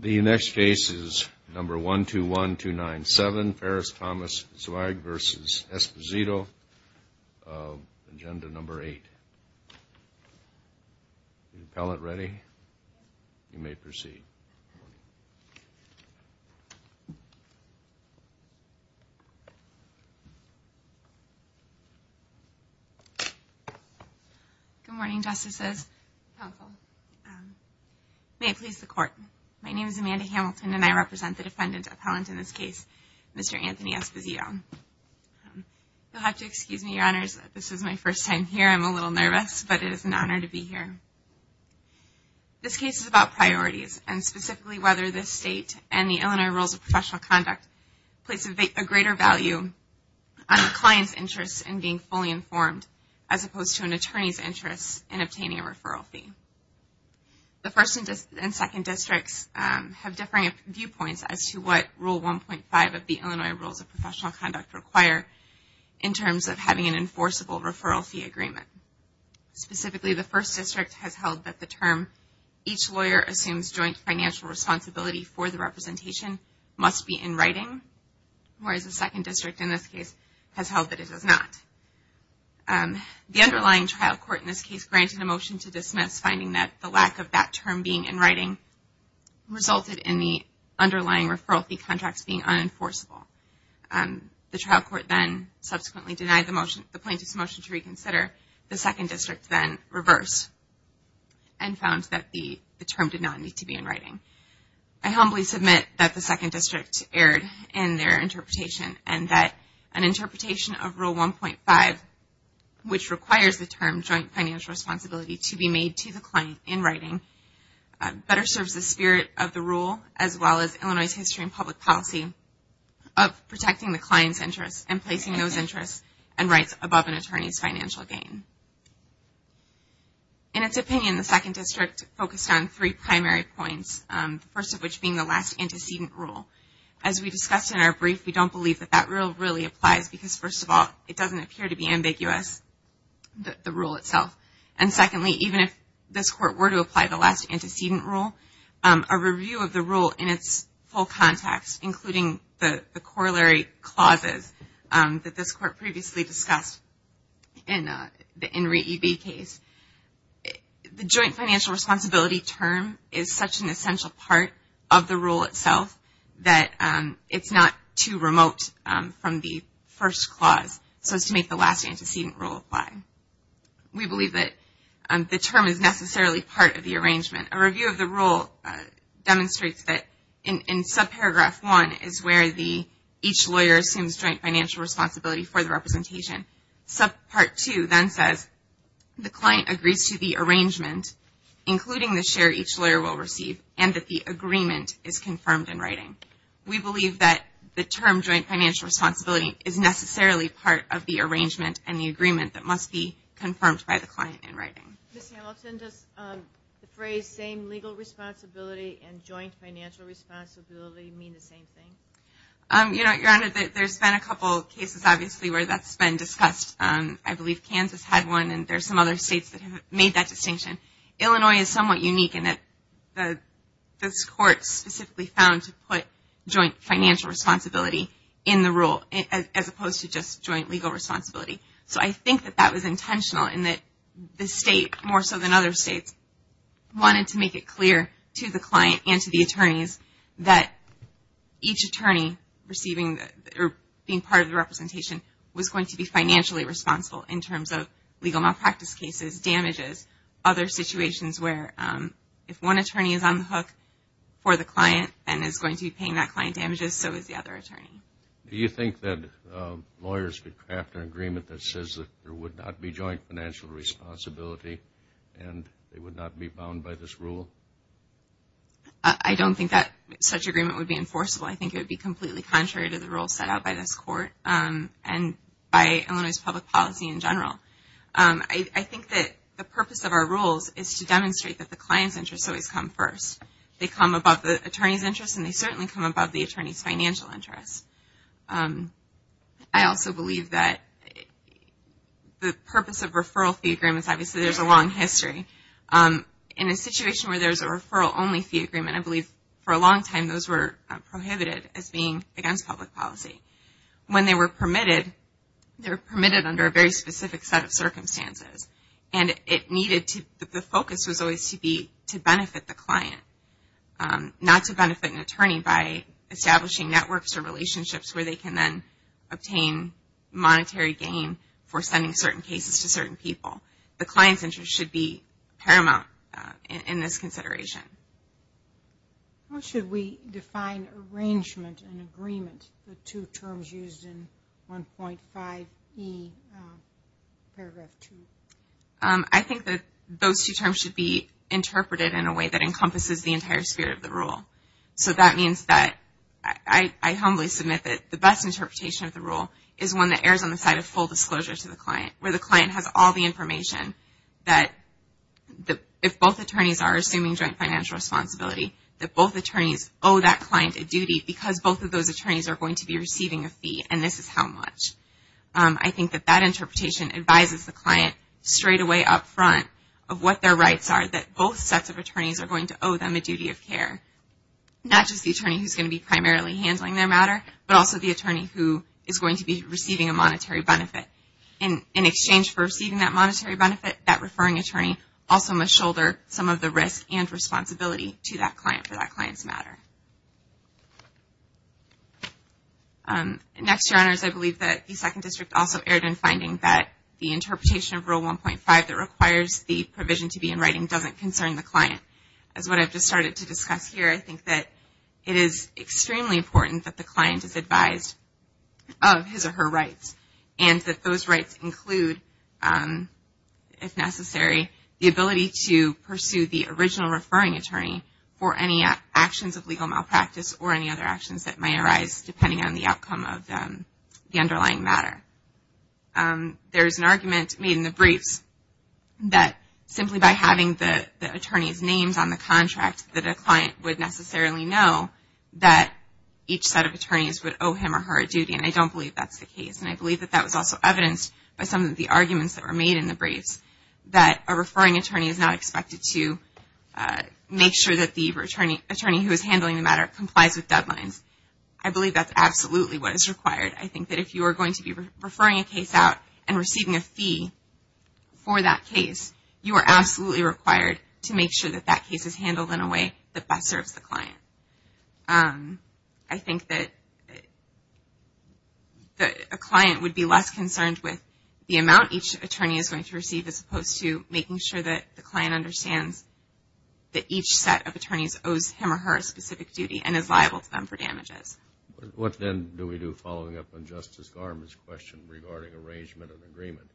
The next case is number 121297, Ferris, Thomas & Zweig v. Esposito, Agenda Number 8. Is the appellant ready? You may proceed. Good morning, Justices. May it please the Court, my name is Amanda Hamilton and I represent the defendant appellant in this case, Mr. Anthony Esposito. You'll have to excuse me, Your Honors, this is my first time here. I'm a little nervous, but it is an honor to be here. This case is about priorities and specifically whether this State and the Illinois Rules of Professional Conduct place a greater value on a client's interest in being fully informed as opposed to an attorney's interest in obtaining a referral fee. The First and Second Districts have differing viewpoints as to what Rule 1.5 of the Illinois Rules of Professional Conduct require in terms of having an enforceable referral fee agreement. Specifically, the First District has held that the term, each lawyer assumes joint financial responsibility for the representation, must be in writing, whereas the Second District in this case has held that it is not. The underlying trial court in this case granted a motion to dismiss, finding that the lack of that term being in writing resulted in the underlying referral fee contracts being unenforceable. The trial court then subsequently denied the plaintiff's motion to reconsider. The Second District then reversed and found that the term did not need to be in writing. I humbly submit that the Second District erred in their interpretation and that an interpretation of Rule 1.5, which requires the term joint financial responsibility to be made to the client in writing, better serves the spirit of the Rule as well as Illinois' history and public policy of protecting the client's interests and placing those interests and rights above an attorney's financial gain. In its opinion, the Second District focused on three primary points, the first of which being the last antecedent rule. As we discussed in our brief, we don't believe that that rule really applies because, first of all, it doesn't appear to be ambiguous, the rule itself. And secondly, even if this court were to apply the last antecedent rule, a review of the rule in its full context, including the corollary clauses that this court previously discussed in the Enri E. B. case, the joint financial responsibility term is such an essential part of the rule itself that it's not too remote from the first clause, so as to make the last antecedent rule apply. We believe that the term is necessarily part of the arrangement. A review of the rule demonstrates that in subparagraph 1 is where each lawyer assumes joint financial responsibility for the representation. Subpart 2 then says the client agrees to the arrangement, including the share each lawyer will receive, and that the agreement is confirmed in writing. We believe that the term joint financial responsibility is necessarily part of the arrangement and the agreement that must be confirmed by the client in writing. Ms. Hamilton, does the phrase same legal responsibility and joint financial responsibility mean the same thing? Your Honor, there's been a couple cases, obviously, where that's been discussed. I believe Kansas had one, and there's some other states that have made that distinction. Illinois is somewhat unique in that this court specifically found to put joint financial responsibility in the rule, as opposed to just joint legal responsibility. So I think that that was intentional in that the state, more so than other states, wanted to make it clear to the client and to the attorneys that each attorney being part of the representation was going to be financially responsible in terms of legal malpractice cases, damages, other situations where if one attorney is on the hook for the client and is going to be paying that client damages, so is the other attorney. Do you think that lawyers could craft an agreement that says that there would not be joint financial responsibility and they would not be bound by this rule? I don't think that such agreement would be enforceable. I think it would be completely contrary to the rules set out by this court and by Illinois' public policy in general. I think that the purpose of our rules is to demonstrate that the client's interests always come first. They come above the attorney's interests, and they certainly come above the attorney's financial interests. I also believe that the purpose of referral fee agreements, obviously, there's a long history. In a situation where there's a referral-only fee agreement, I believe for a long time those were prohibited as being against public policy. When they were permitted, they were permitted under a very specific set of circumstances. And the focus was always to benefit the client, not to benefit an attorney by establishing networks or relationships where they can then obtain monetary gain for sending certain cases to certain people. The client's interest should be paramount in this consideration. How should we define arrangement and agreement, the two terms used in 1.5e paragraph 2? I think that those two terms should be interpreted in a way that encompasses the entire spirit of the rule. So that means that I humbly submit that the best interpretation of the rule is one that errs on the side of full disclosure to the client, where the client has all the information that if both attorneys are assuming joint financial responsibility, that both attorneys owe that client a duty because both of those attorneys are going to be receiving a fee, and this is how much. I think that that interpretation advises the client straightaway up front of what their rights are, that both sets of attorneys are going to owe them a duty of care. Not just the attorney who's going to be primarily handling their matter, but also the attorney who is going to be receiving a monetary benefit. In exchange for receiving that monetary benefit, that referring attorney also must shoulder some of the risk and responsibility to that client for that client's matter. Next, Your Honors, I believe that the Second District also erred in finding that the interpretation of Rule 1.5 that requires the provision to be in writing doesn't concern the client. As what I've just started to discuss here, I think that it is extremely important that the client is advised of his or her rights and that those rights include, if necessary, the ability to pursue the original referring attorney for any actions of legal malpractice or any other actions that may arise depending on the outcome of the underlying matter. There is an argument made in the briefs that simply by having the attorney's names on the contract, that a client would necessarily know that each set of attorneys would owe him or her a duty, and I don't believe that's the case. And I believe that that was also evidenced by some of the arguments that were made in the briefs that a referring attorney is not expected to make sure that the attorney who is handling the matter complies with deadlines. I believe that's absolutely what is required. I think that if you are going to be referring a case out and receiving a fee for that case, you are absolutely required to make sure that that case is handled in a way that best serves the client. I think that a client would be less concerned with the amount each attorney is going to receive as opposed to making sure that the client understands that each set of attorneys owes him or her a specific duty and is liable to them for damages. What then do we do following up on Justice Garment's question regarding arrangement and agreement?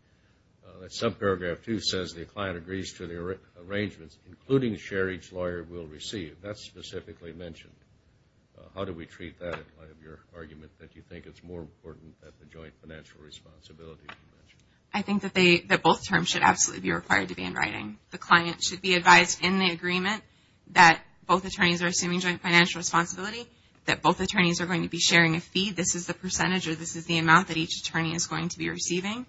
Subparagraph 2 says the client agrees to the arrangements, including the share each lawyer will receive. That's specifically mentioned. How do we treat that in light of your argument that you think it's more important than the joint financial responsibility? I think that both terms should absolutely be required to be in writing. The client should be advised in the agreement that both attorneys are assuming joint financial responsibility, that both attorneys are going to be sharing a fee. This is the percentage or this is the amount that each attorney is going to be receiving,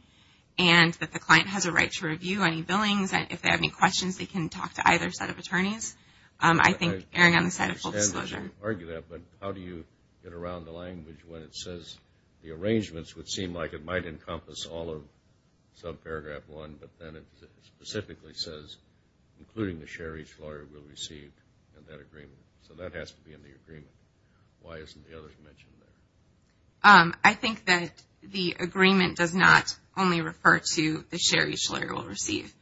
and that the client has a right to review any billings. If they have any questions, they can talk to either set of attorneys. I think erring on the side of full disclosure. I understand that you argue that, but how do you get around the language when it says the arrangements would seem like it might encompass all of subparagraph 1, but then it specifically says including the share each lawyer will receive in that agreement. So that has to be in the agreement. Why isn't the other mentioned there? I think that the agreement does not only refer to the share each lawyer will receive.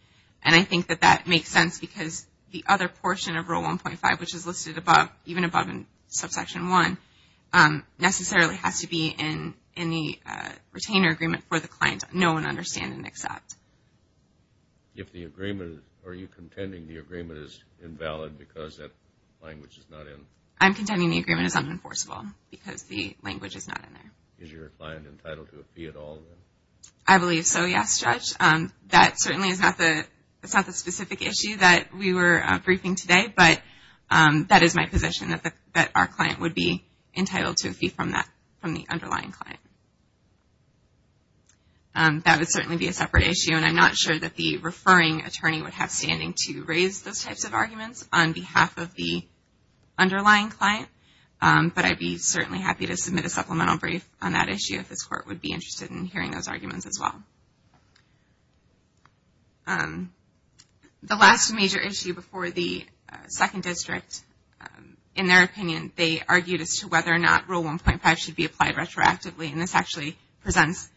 And I think that that makes sense because the other portion of Rule 1.5, which is listed even above in Subsection 1, necessarily has to be in the retainer agreement for the client to know and understand and accept. If the agreement, are you contending the agreement is invalid because that language is not in? I'm contending the agreement is unenforceable because the language is not in there. Is your client entitled to a fee at all? I believe so, yes, Judge. That certainly is not the specific issue that we were briefing today, but that is my position that our client would be entitled to a fee from the underlying client. That would certainly be a separate issue, and I'm not sure that the referring attorney would have standing to raise those types of arguments on behalf of the underlying client, but I'd be certainly happy to submit a supplemental brief on that issue if this Court would be interested in hearing those arguments as well. The last major issue before the Second District, in their opinion, they argued as to whether or not Rule 1.5 should be applied retroactively, and this actually presents,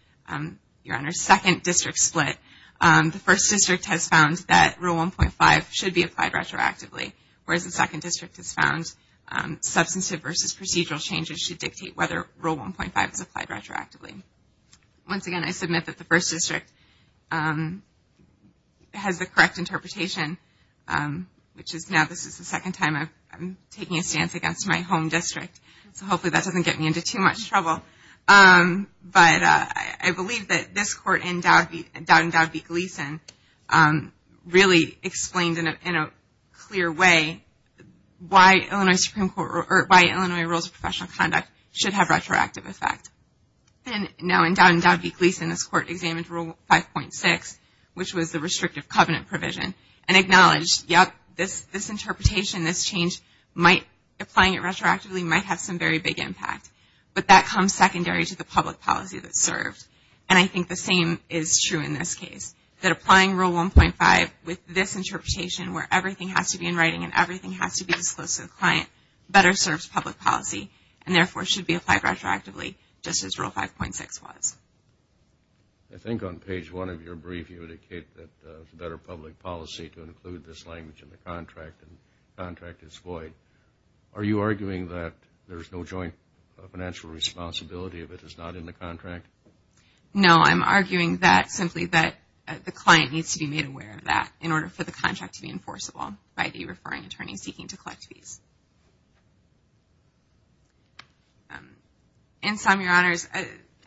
Your Honor, second district split. The First District has found that Rule 1.5 should be applied retroactively, whereas the Second District has found substantive versus procedural changes which should dictate whether Rule 1.5 is applied retroactively. Once again, I submit that the First District has the correct interpretation, which is now this is the second time I'm taking a stance against my home district, so hopefully that doesn't get me into too much trouble. But I believe that this Court in Dowd and Dowd v. Gleeson really explained in a clear way why Illinois Rules of Professional Conduct should have retroactive effect. Now, in Dowd and Dowd v. Gleeson, this Court examined Rule 5.6, which was the restrictive covenant provision, and acknowledged, yep, this interpretation, this change, applying it retroactively might have some very big impact, but that comes secondary to the public policy that's served. And I think the same is true in this case, that applying Rule 1.5 with this interpretation, where everything has to be in writing and everything has to be disclosed to the client, better serves public policy, and therefore should be applied retroactively, just as Rule 5.6 was. I think on page 1 of your brief you indicate that it's better public policy to include this language in the contract, and the contract is void. Are you arguing that there's no joint financial responsibility if it is not in the contract? No, I'm arguing that simply that the client needs to be made aware of that in order for the contract to be enforceable by the referring attorney seeking to collect fees. In sum, Your Honors,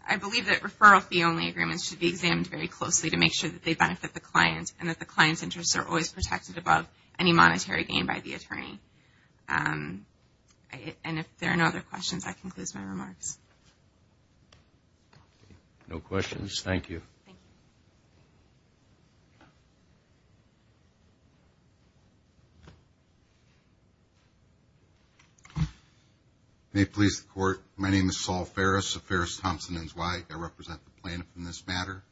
I believe that referral fee-only agreements should be examined very closely to make sure that they benefit the client and that the client's interests are always protected above any monetary gain by the attorney. And if there are no other questions, that concludes my remarks. No questions, thank you. May it please the Court, my name is Saul Farris of Farris Thompson & Zweig. I represent the plaintiff in this matter.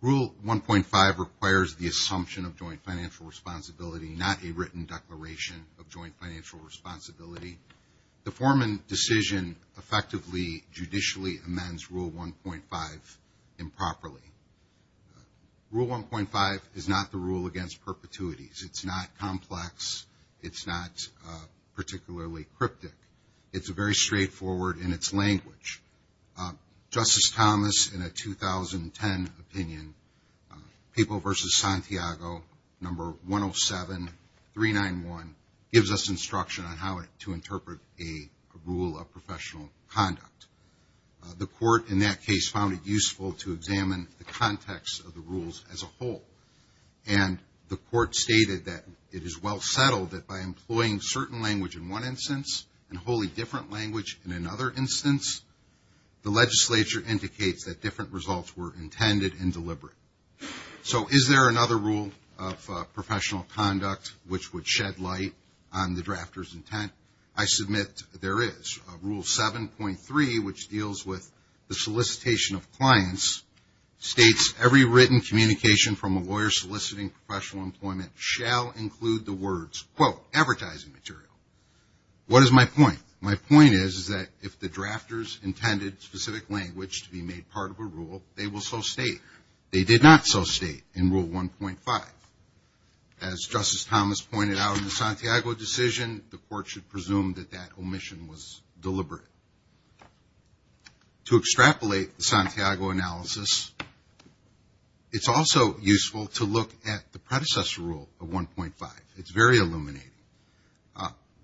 Rule 1.5 requires the assumption of joint financial responsibility, not a written declaration of joint financial responsibility. The foreman decision effectively judicially amends Rule 1.5 improperly. Rule 1.5 is not the rule against perpetuities. It's not complex. It's not particularly cryptic. It's very straightforward in its language. Justice Thomas, in a 2010 opinion, Papal v. Santiago, No. 107391, gives us instruction on how to interpret a rule of professional conduct. The Court in that case found it useful to examine the context of the rules as a whole. And the Court stated that it is well settled that by employing certain language in one instance and a wholly different language in another instance, the legislature indicates that different results were intended and deliberate. So is there another rule of professional conduct which would shed light on the drafter's intent? I submit there is. Rule 7.3, which deals with the solicitation of clients, states every written communication from a lawyer soliciting professional employment shall include the words, quote, advertising material. What is my point? My point is that if the drafters intended specific language to be made part of a rule, they will so state. They did not so state in Rule 1.5. As Justice Thomas pointed out in the Santiago decision, the Court should presume that that omission was deliberate. To extrapolate the Santiago analysis, it's also useful to look at the predecessor rule of 1.5. It's very illuminating.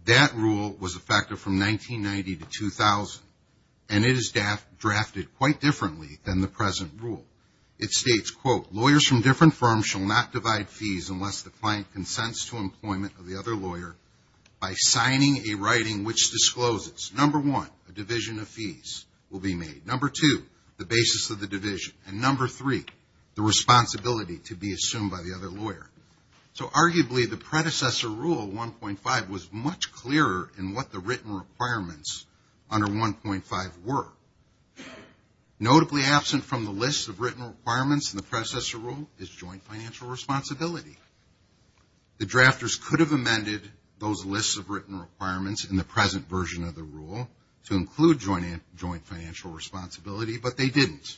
That rule was effective from 1990 to 2000, and it is drafted quite differently than the present rule. It states, quote, lawyers from different firms shall not divide fees unless the client consents to employment of the other lawyer by signing a writing which discloses, number one, a division of fees will be made, number two, the basis of the division, and number three, the responsibility to be assumed by the other lawyer. So arguably the predecessor rule, 1.5, was much clearer in what the written requirements under 1.5 were. Notably absent from the list of written requirements in the predecessor rule is joint financial responsibility. The drafters could have amended those lists of written requirements in the present version of the rule to include joint financial responsibility, but they didn't.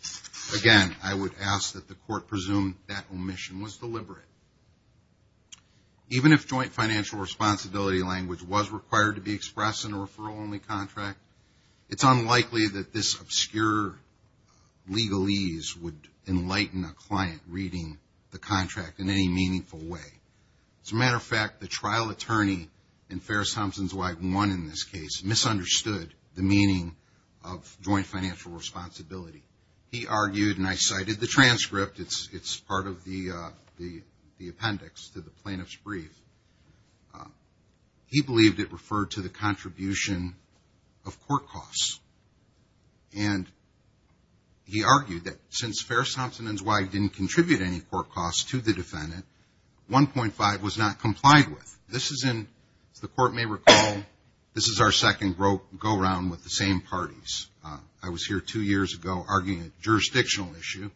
Again, I would ask that the Court presume that omission was deliberate. Even if joint financial responsibility language was required to be expressed in a referral-only contract, it's unlikely that this obscure legalese would enlighten a client reading the contract in any meaningful way. As a matter of fact, the trial attorney in Ferris-Thompson's wife, one in this case, misunderstood the meaning of joint financial responsibility. He argued, and I cited the transcript. It's part of the appendix to the plaintiff's brief. He believed it referred to the contribution of court costs. And he argued that since Ferris-Thompson and his wife didn't contribute any court costs to the defendant, 1.5 was not complied with. This is in, as the Court may recall, this is our second go-round with the same parties. I was here two years ago arguing a jurisdictional issue.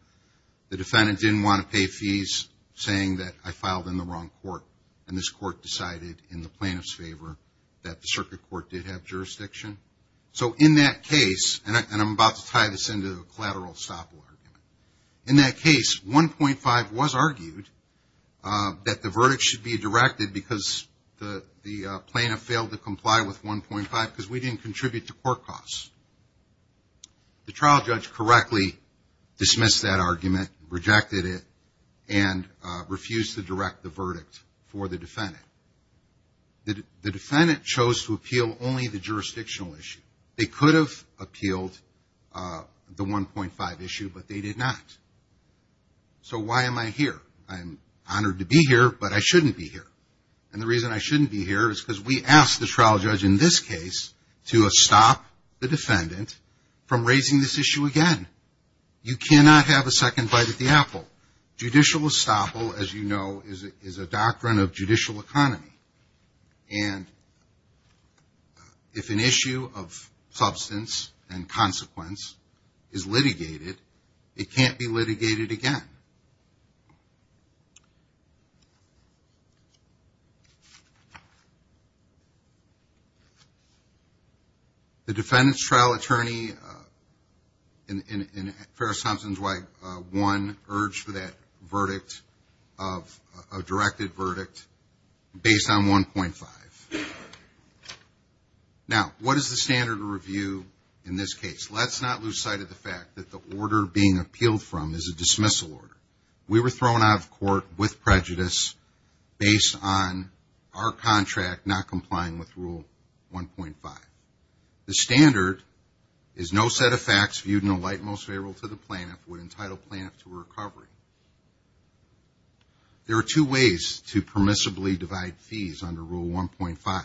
The defendant didn't want to pay fees saying that I filed in the wrong court. And this court decided in the plaintiff's favor that the circuit court did have jurisdiction. So in that case, and I'm about to tie this into a collateral estoppel argument. In that case, 1.5 was argued that the verdict should be directed because the plaintiff failed to comply with 1.5 because we didn't contribute to court costs. The trial judge correctly dismissed that argument, rejected it, and refused to direct the verdict for the defendant. The defendant chose to appeal only the jurisdictional issue. They could have appealed the 1.5 issue, but they did not. So why am I here? I'm honored to be here, but I shouldn't be here. And the reason I shouldn't be here is because we asked the trial judge in this case to stop the defendant from raising this issue again. You cannot have a second bite at the apple. Judicial estoppel, as you know, is a doctrine of judicial economy. And if an issue of substance and consequence is litigated, it can't be litigated again. The defendant's trial attorney in Ferris-Thompson's way, one, urged for that verdict of a directed verdict based on 1.5. Now, what is the standard of review in this case? Let's not lose sight of the fact that the order being appealed from is a dismissal order. We were thrown out of court with prejudice based on our contract not complying with Rule 1.5. The standard is no set of facts viewed in the light most favorable to the plaintiff would entitle plaintiff to recovery. There are two ways to permissibly divide fees under Rule 1.5.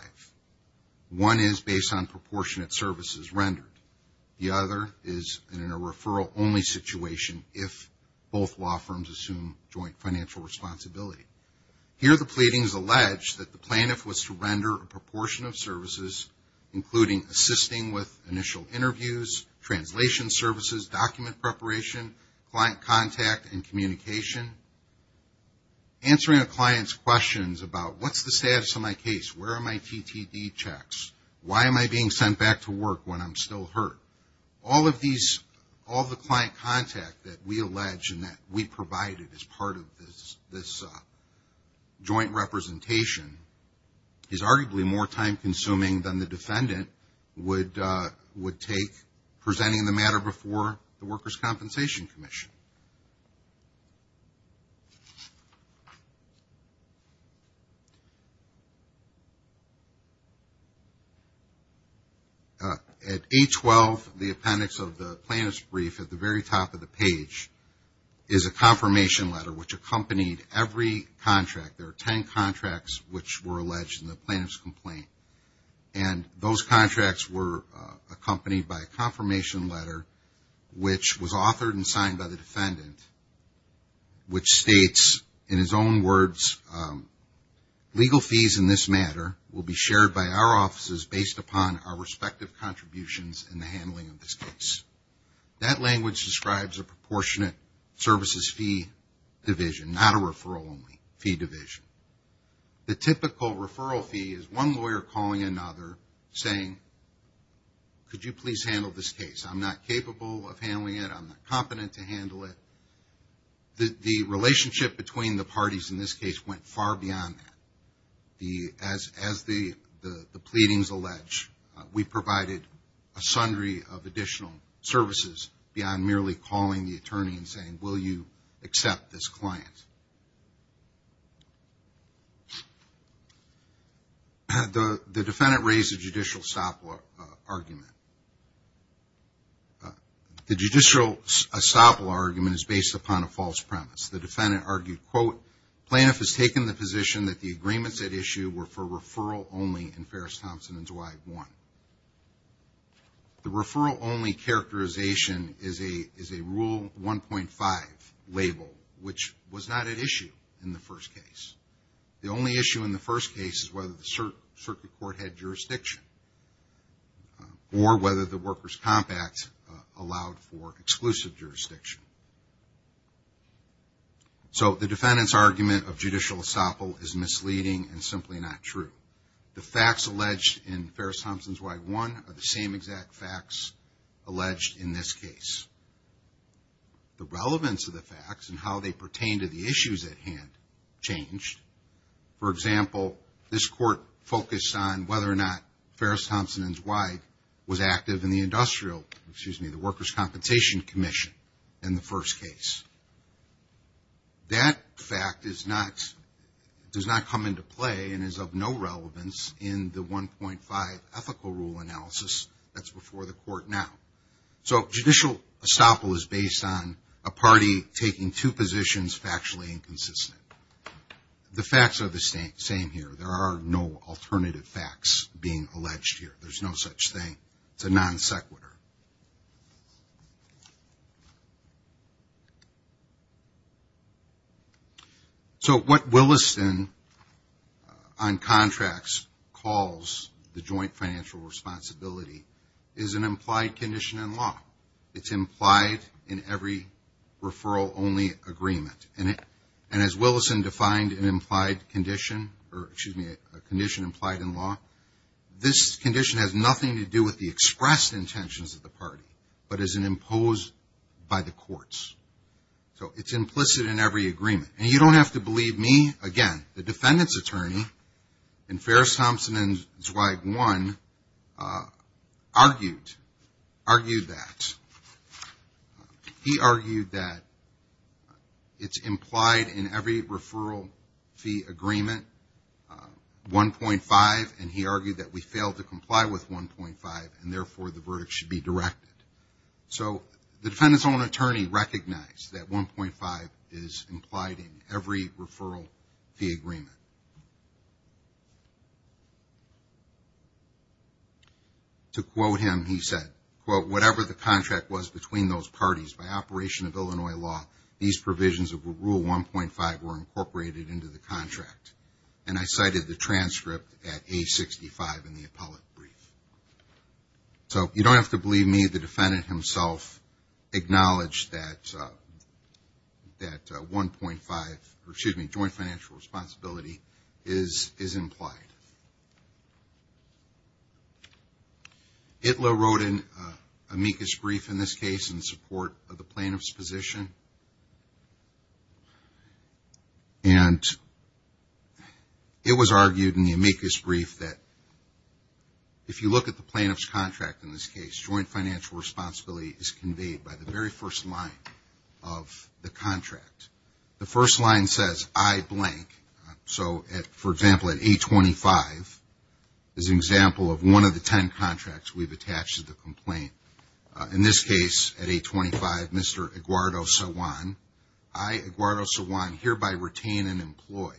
One is based on proportionate services rendered. The other is in a referral-only situation if both law firms assume joint financial responsibility. Here the pleadings allege that the plaintiff was to render a proportion of services, including assisting with initial interviews, translation services, document preparation, client contact, and communication. Answering a client's questions about what's the status of my case, where are my TTD checks, why am I being sent back to work when I'm still hurt? All of the client contact that we allege and that we provided as part of this joint representation is arguably more time consuming than the defendant would take presenting the matter before the Workers' Compensation Commission. At 812, the appendix of the plaintiff's brief at the very top of the page is a confirmation letter which accompanied every contract. There are 10 contracts which were alleged in the plaintiff's complaint and those contracts were accompanied by a confirmation letter which was authored and signed by the defendant which states in his own words, legal fees in this matter will be shared by our offices based upon our respective contributions in the handling of this case. That language describes a proportionate services fee division, not a referral only fee division. The typical referral fee is one lawyer calling another saying, could you please handle this case? I'm not capable of handling it. I'm not competent to handle it. The relationship between the parties in this case went far beyond that. As the pleadings allege, we provided a sundry of additional services beyond merely calling the attorney and saying, will you accept this client? The defendant raised a judicial estoppel argument. The judicial estoppel argument is based upon a false premise. The defendant argued, quote, plaintiff has taken the position that the agreements at issue were for referral only in Ferris Thompson and Dwight 1. The referral only characterization is a Rule 1.5 label which was not at issue in the first case. The only issue in the first case is whether the circuit court had jurisdiction. The defendant's argument of judicial estoppel is misleading and simply not true. The facts alleged in Ferris Thompson and Dwight 1 are the same exact facts alleged in this case. The relevance of the facts and how they pertain to the issues at hand changed. For example, this court focused on whether or not Ferris Thompson and Dwight was active in the industrial, excuse me, the Workers' Compensation Commission in the first case. That fact does not come into play and is of no relevance in the 1.5 ethical rule analysis that's before the court now. So judicial estoppel is based on a party taking two positions factually inconsistent. The facts are the same here. There are no alternative facts being alleged here. There's no such thing. It's a non-sequitur. So what Williston on contracts calls the joint financial responsibility is an implied condition in law. It's implied in every referral-only agreement. And as Williston defined an implied condition, or excuse me, a condition implied in law, this condition has nothing to do with the expressed intentions of the party but is an imposed by the courts. So it's implicit in every agreement. And you don't have to believe me. Again, the defendant's attorney in Ferris Thompson and Dwight won argued that. He argued that it's implied in every referral fee agreement, 1.5, and he argued that we failed to comply with 1.5, and therefore the verdict should be directed. So the defendant's own attorney recognized that 1.5 is implied in every referral fee agreement. To quote him, he said, quote, whatever the contract was between those parties, by operation of Illinois law, these provisions of Rule 1.5 were incorporated into the contract. And I cited the transcript at A65 in the appellate brief. So you don't have to believe me. The defendant himself acknowledged that 1.5, or excuse me, joint financial responsibility is implied. Itlow wrote an amicus brief in this case in support of the plaintiff's position. And it was argued in the amicus brief that if you look at the plaintiff's contract in this case, joint financial responsibility is conveyed by the very first line of the contract. The first line says, I blank. So for example, at A25 is an example of one of the ten contracts we've attached to the complaint. In this case, at A25, Mr. Aguardo-Sawan, I, Aguardo-Sawan, hereby retain and employ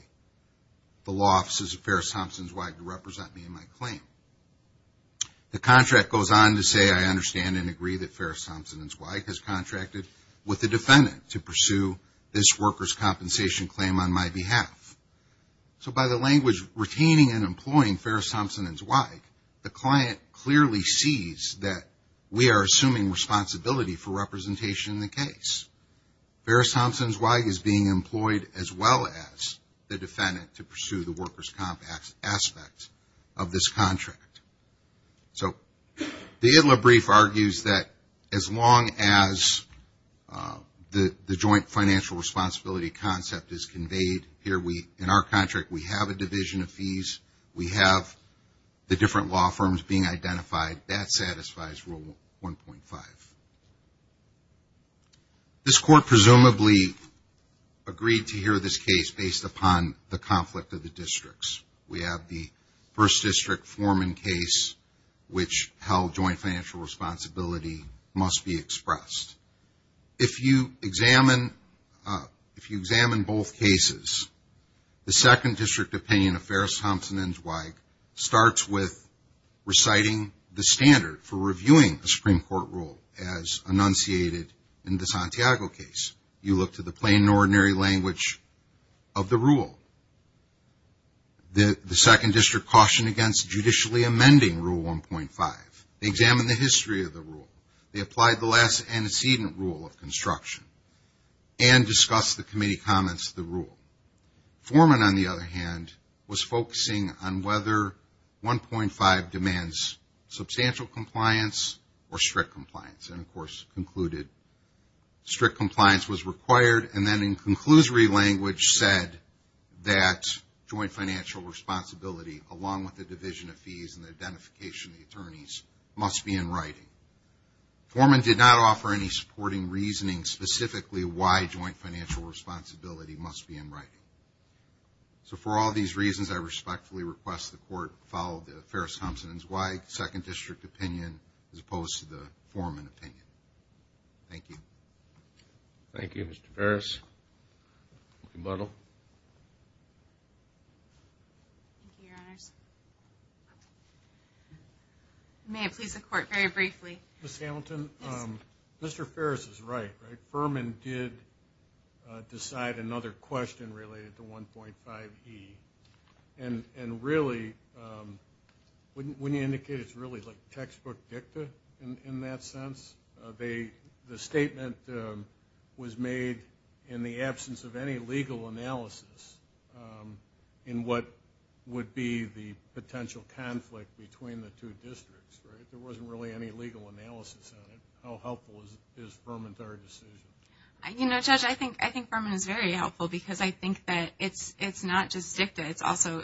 the law offices of Ferris-Thompson & Zweig to represent me in my claim. The contract goes on to say, I understand and agree that Ferris-Thompson & Zweig has contracted with the defendant to pursue this worker's compensation claim on my behalf. So by the language, retaining and employing Ferris-Thompson & Zweig, the client clearly sees that we are assuming responsibility for representation in the case. Ferris-Thompson & Zweig is being employed as well as the defendant to pursue the worker's comp aspect of this contract. So the Itlow brief argues that as long as the joint financial responsibility concept is conveyed, here we, in our firms, being identified, that satisfies Rule 1.5. This Court presumably agreed to hear this case based upon the conflict of the districts. We have the 1st District Foreman case, which held joint financial responsibility must be expressed. If you examine both cases, the 2nd District opinion of Ferris-Thompson & Zweig starts with reciting the standard for reviewing a Supreme Court rule as enunciated in the Santiago case. You look to the plain and ordinary language of the rule. The 2nd District cautioned against judicially amending Rule 1.5. They examined the history of the rule. They applied the last antecedent rule of construction and discussed the committee comments to the rule. Foreman, on the other hand, was focusing on whether 1.5 demands substantial compliance or strict compliance and, of course, concluded strict compliance was required and then in conclusory language said that joint financial responsibility, along with the division of fees and the identification of the attorneys, must be in writing. Foreman did not offer any supporting reasoning specifically why joint financial responsibility must be in writing. For all these reasons, I respectfully request the Court follow Ferris-Thompson & Zweig's 2nd District opinion as opposed to the Foreman opinion. Thank you. Thank you, Mr. Ferris. Rebuttal. Thank you, Your Honors. May I please the Court very briefly? Ms. Hamilton, Mr. Ferris is right, right? Foreman did decide another question related to 1.5e and really, wouldn't you indicate it's really like textbook dicta in that sense? The statement was made in the absence of any legal analysis in what would be the potential conflict between the two districts, right? There wasn't really any legal analysis on it. How helpful is Foreman to our decision? You know, Judge, I think Foreman is very helpful because I think that it's not just dicta. It's also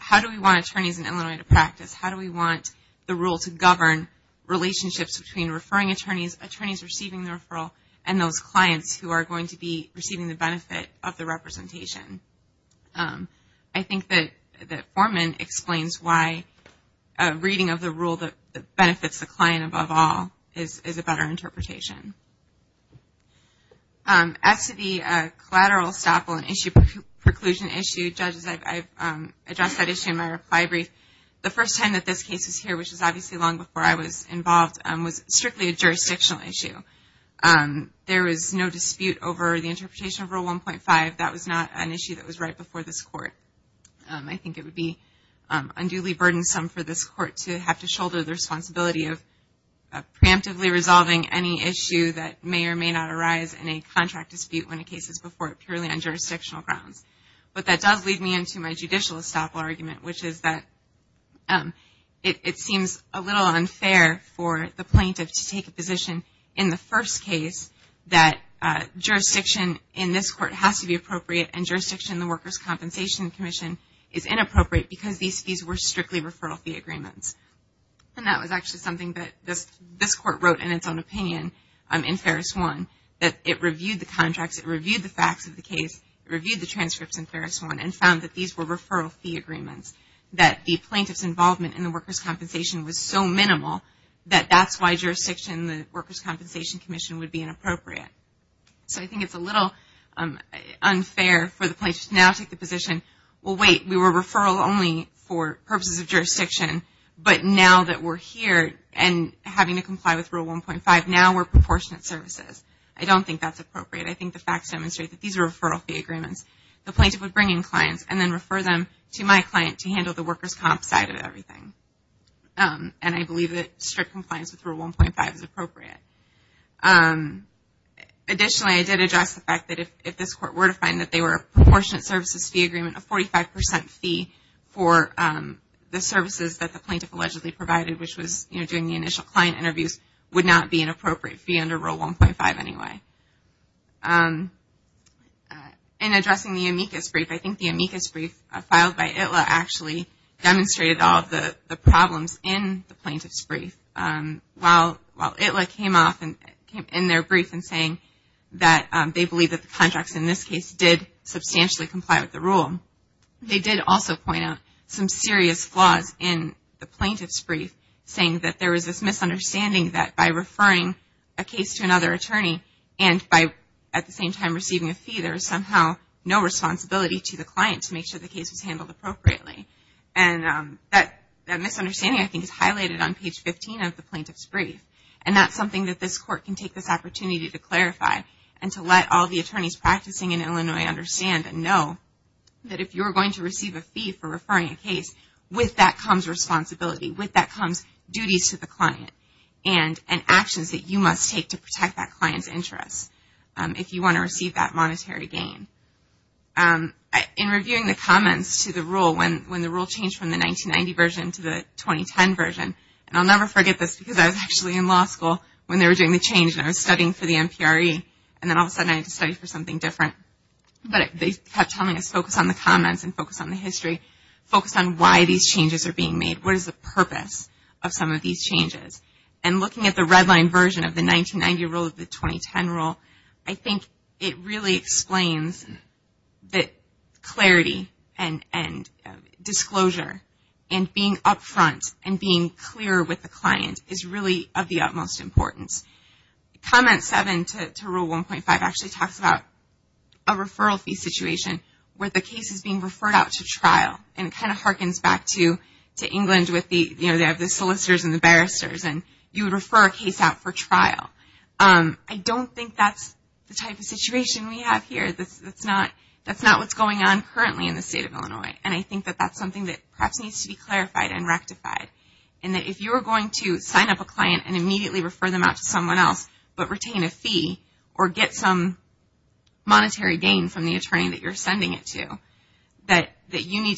how do we want attorneys in Illinois to practice? How do we want the rule to govern relationships between referring attorneys, attorneys receiving the referral, and those clients who are going to be receiving the benefit of the representation? I think that Foreman explains why a reading of the rule that benefits the client above all is a better interpretation. As to the first time that this case is here, which is obviously long before I was involved, was strictly a jurisdictional issue. There was no dispute over the interpretation of Rule 1.5. That was not an issue that was right before this Court. I think it would be unduly burdensome for this Court to have to shoulder the responsibility of preemptively resolving any issue that may or may not arise in a contract dispute when a case is before it purely on jurisdictional grounds. But that does lead me into my judicial estoppel argument, which is that it seems a little unfair for the plaintiff to take a position in the first case that jurisdiction in this Court has to be appropriate and jurisdiction in the Workers' Compensation Commission is inappropriate because these fees were strictly referral fee agreements. And that was actually something that this Court wrote in its own opinion in Ferris 1. That it reviewed the contracts, it reviewed the facts of the case, it reviewed the transcripts in Ferris 1 and found that these were referral fee agreements. That the plaintiff's involvement in the Workers' Compensation was so minimal that that's why jurisdiction in the Workers' Compensation Commission would be inappropriate. So I think it's a little unfair for the plaintiff to now take the position, well wait, we were referral only for purposes of jurisdiction, but now that we're here and having to comply with Rule 1.5, now we're proportionate services. I don't think that's appropriate. I think the facts demonstrate that these are referral fee agreements. The plaintiff would bring in clients and then refer them to my client to handle the Workers' Comp side of everything. And I believe that strict compliance with Rule 1.5 is appropriate. Additionally, I did address the fact that if this Court were to find that they were proportionate services fee agreement, a 45 percent fee for the services that the plaintiff allegedly provided, which was doing the initial client interviews, would not be an appropriate fee under Rule 1.5 anyway. In addressing the amicus brief, I think the amicus brief filed by ITLA actually demonstrated all of the problems in the plaintiff's brief. While ITLA came off in their brief in saying that they believe that the contracts in this case did substantially comply with the rule, they did also point out some serious flaws in the plaintiff's brief, saying that there was this misunderstanding that by referring a case to another attorney and by at the same time receiving a fee, there was somehow no responsibility to the client to make sure the case was handled appropriately. And that misunderstanding, I think, is highlighted on page 15 of the plaintiff's brief. And that's something that this Court can take this opportunity to clarify and to let all the attorneys practicing in Illinois understand and know that if you're going to receive a fee for referring a case, with that comes responsibility, with that comes duties to the client and actions that you must take to protect that client's interests if you want to receive that monetary gain. In reviewing the comments to the rule, when the rule changed from the 1990 version to the 2010 version, and I'll never forget this because I was actually in law school when they were doing the change and I was studying for the MPRE, and then all of a sudden I had to study for something different. But they kept telling us, focus on the comments and focus on the history. Focus on why these changes are being made. What is the purpose of some of these changes? And looking at the red line version of the 1990 rule and the 2010 rule, I think it really explains that clarity and disclosure and being up front and being clear with the client is really of the utmost importance. Comment 7 to Rule 1.5 actually talks about a referral fee situation where the case is being referred out to trial. And it kind of harkens back to England with the solicitors and the barristers and you would refer a case out for trial. I don't think that's the type of situation we have here. That's not what's going on currently in the state of Illinois. And I think that that's something that perhaps needs to be clarified and rectified. And that if you are going to sign up a client and immediately refer them out to someone else but retain a fee or get some money,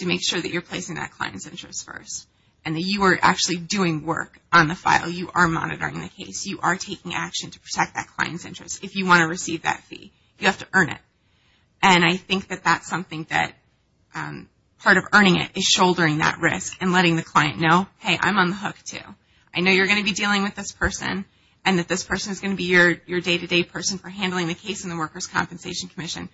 make sure that you're placing that client's interest first and that you are actually doing work on the file. You are monitoring the case. You are taking action to protect that client's interest if you want to receive that fee. You have to earn it. And I think that that's something that part of earning it is shouldering that risk and letting the client know, hey, I'm on the hook too. I know you're going to be dealing with this person and that this person is going to be your day-to-day person for handling the case in the Workers' Compensation Commission.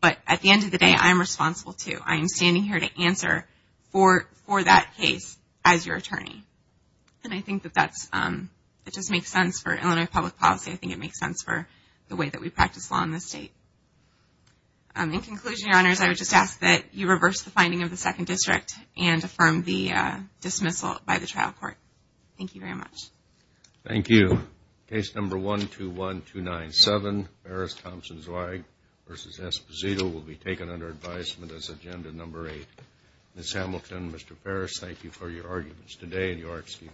But at the end of the day, I am responsible too. I am standing here to answer for that case as your attorney. And I think that that's it just makes sense for Illinois public policy. I think it makes sense for the way that we practice law in this state. In conclusion, Your Honors, I would just ask that you reverse the finding of the Second District and affirm the dismissal by the trial court. Thank you very much. Thank you. Case number 121297, Paris Thompson Zweig v. Esposito will be taken under advisement as agenda number 8. Ms. Hamilton, Mr. Paris, thank you for your arguments today and your excuse.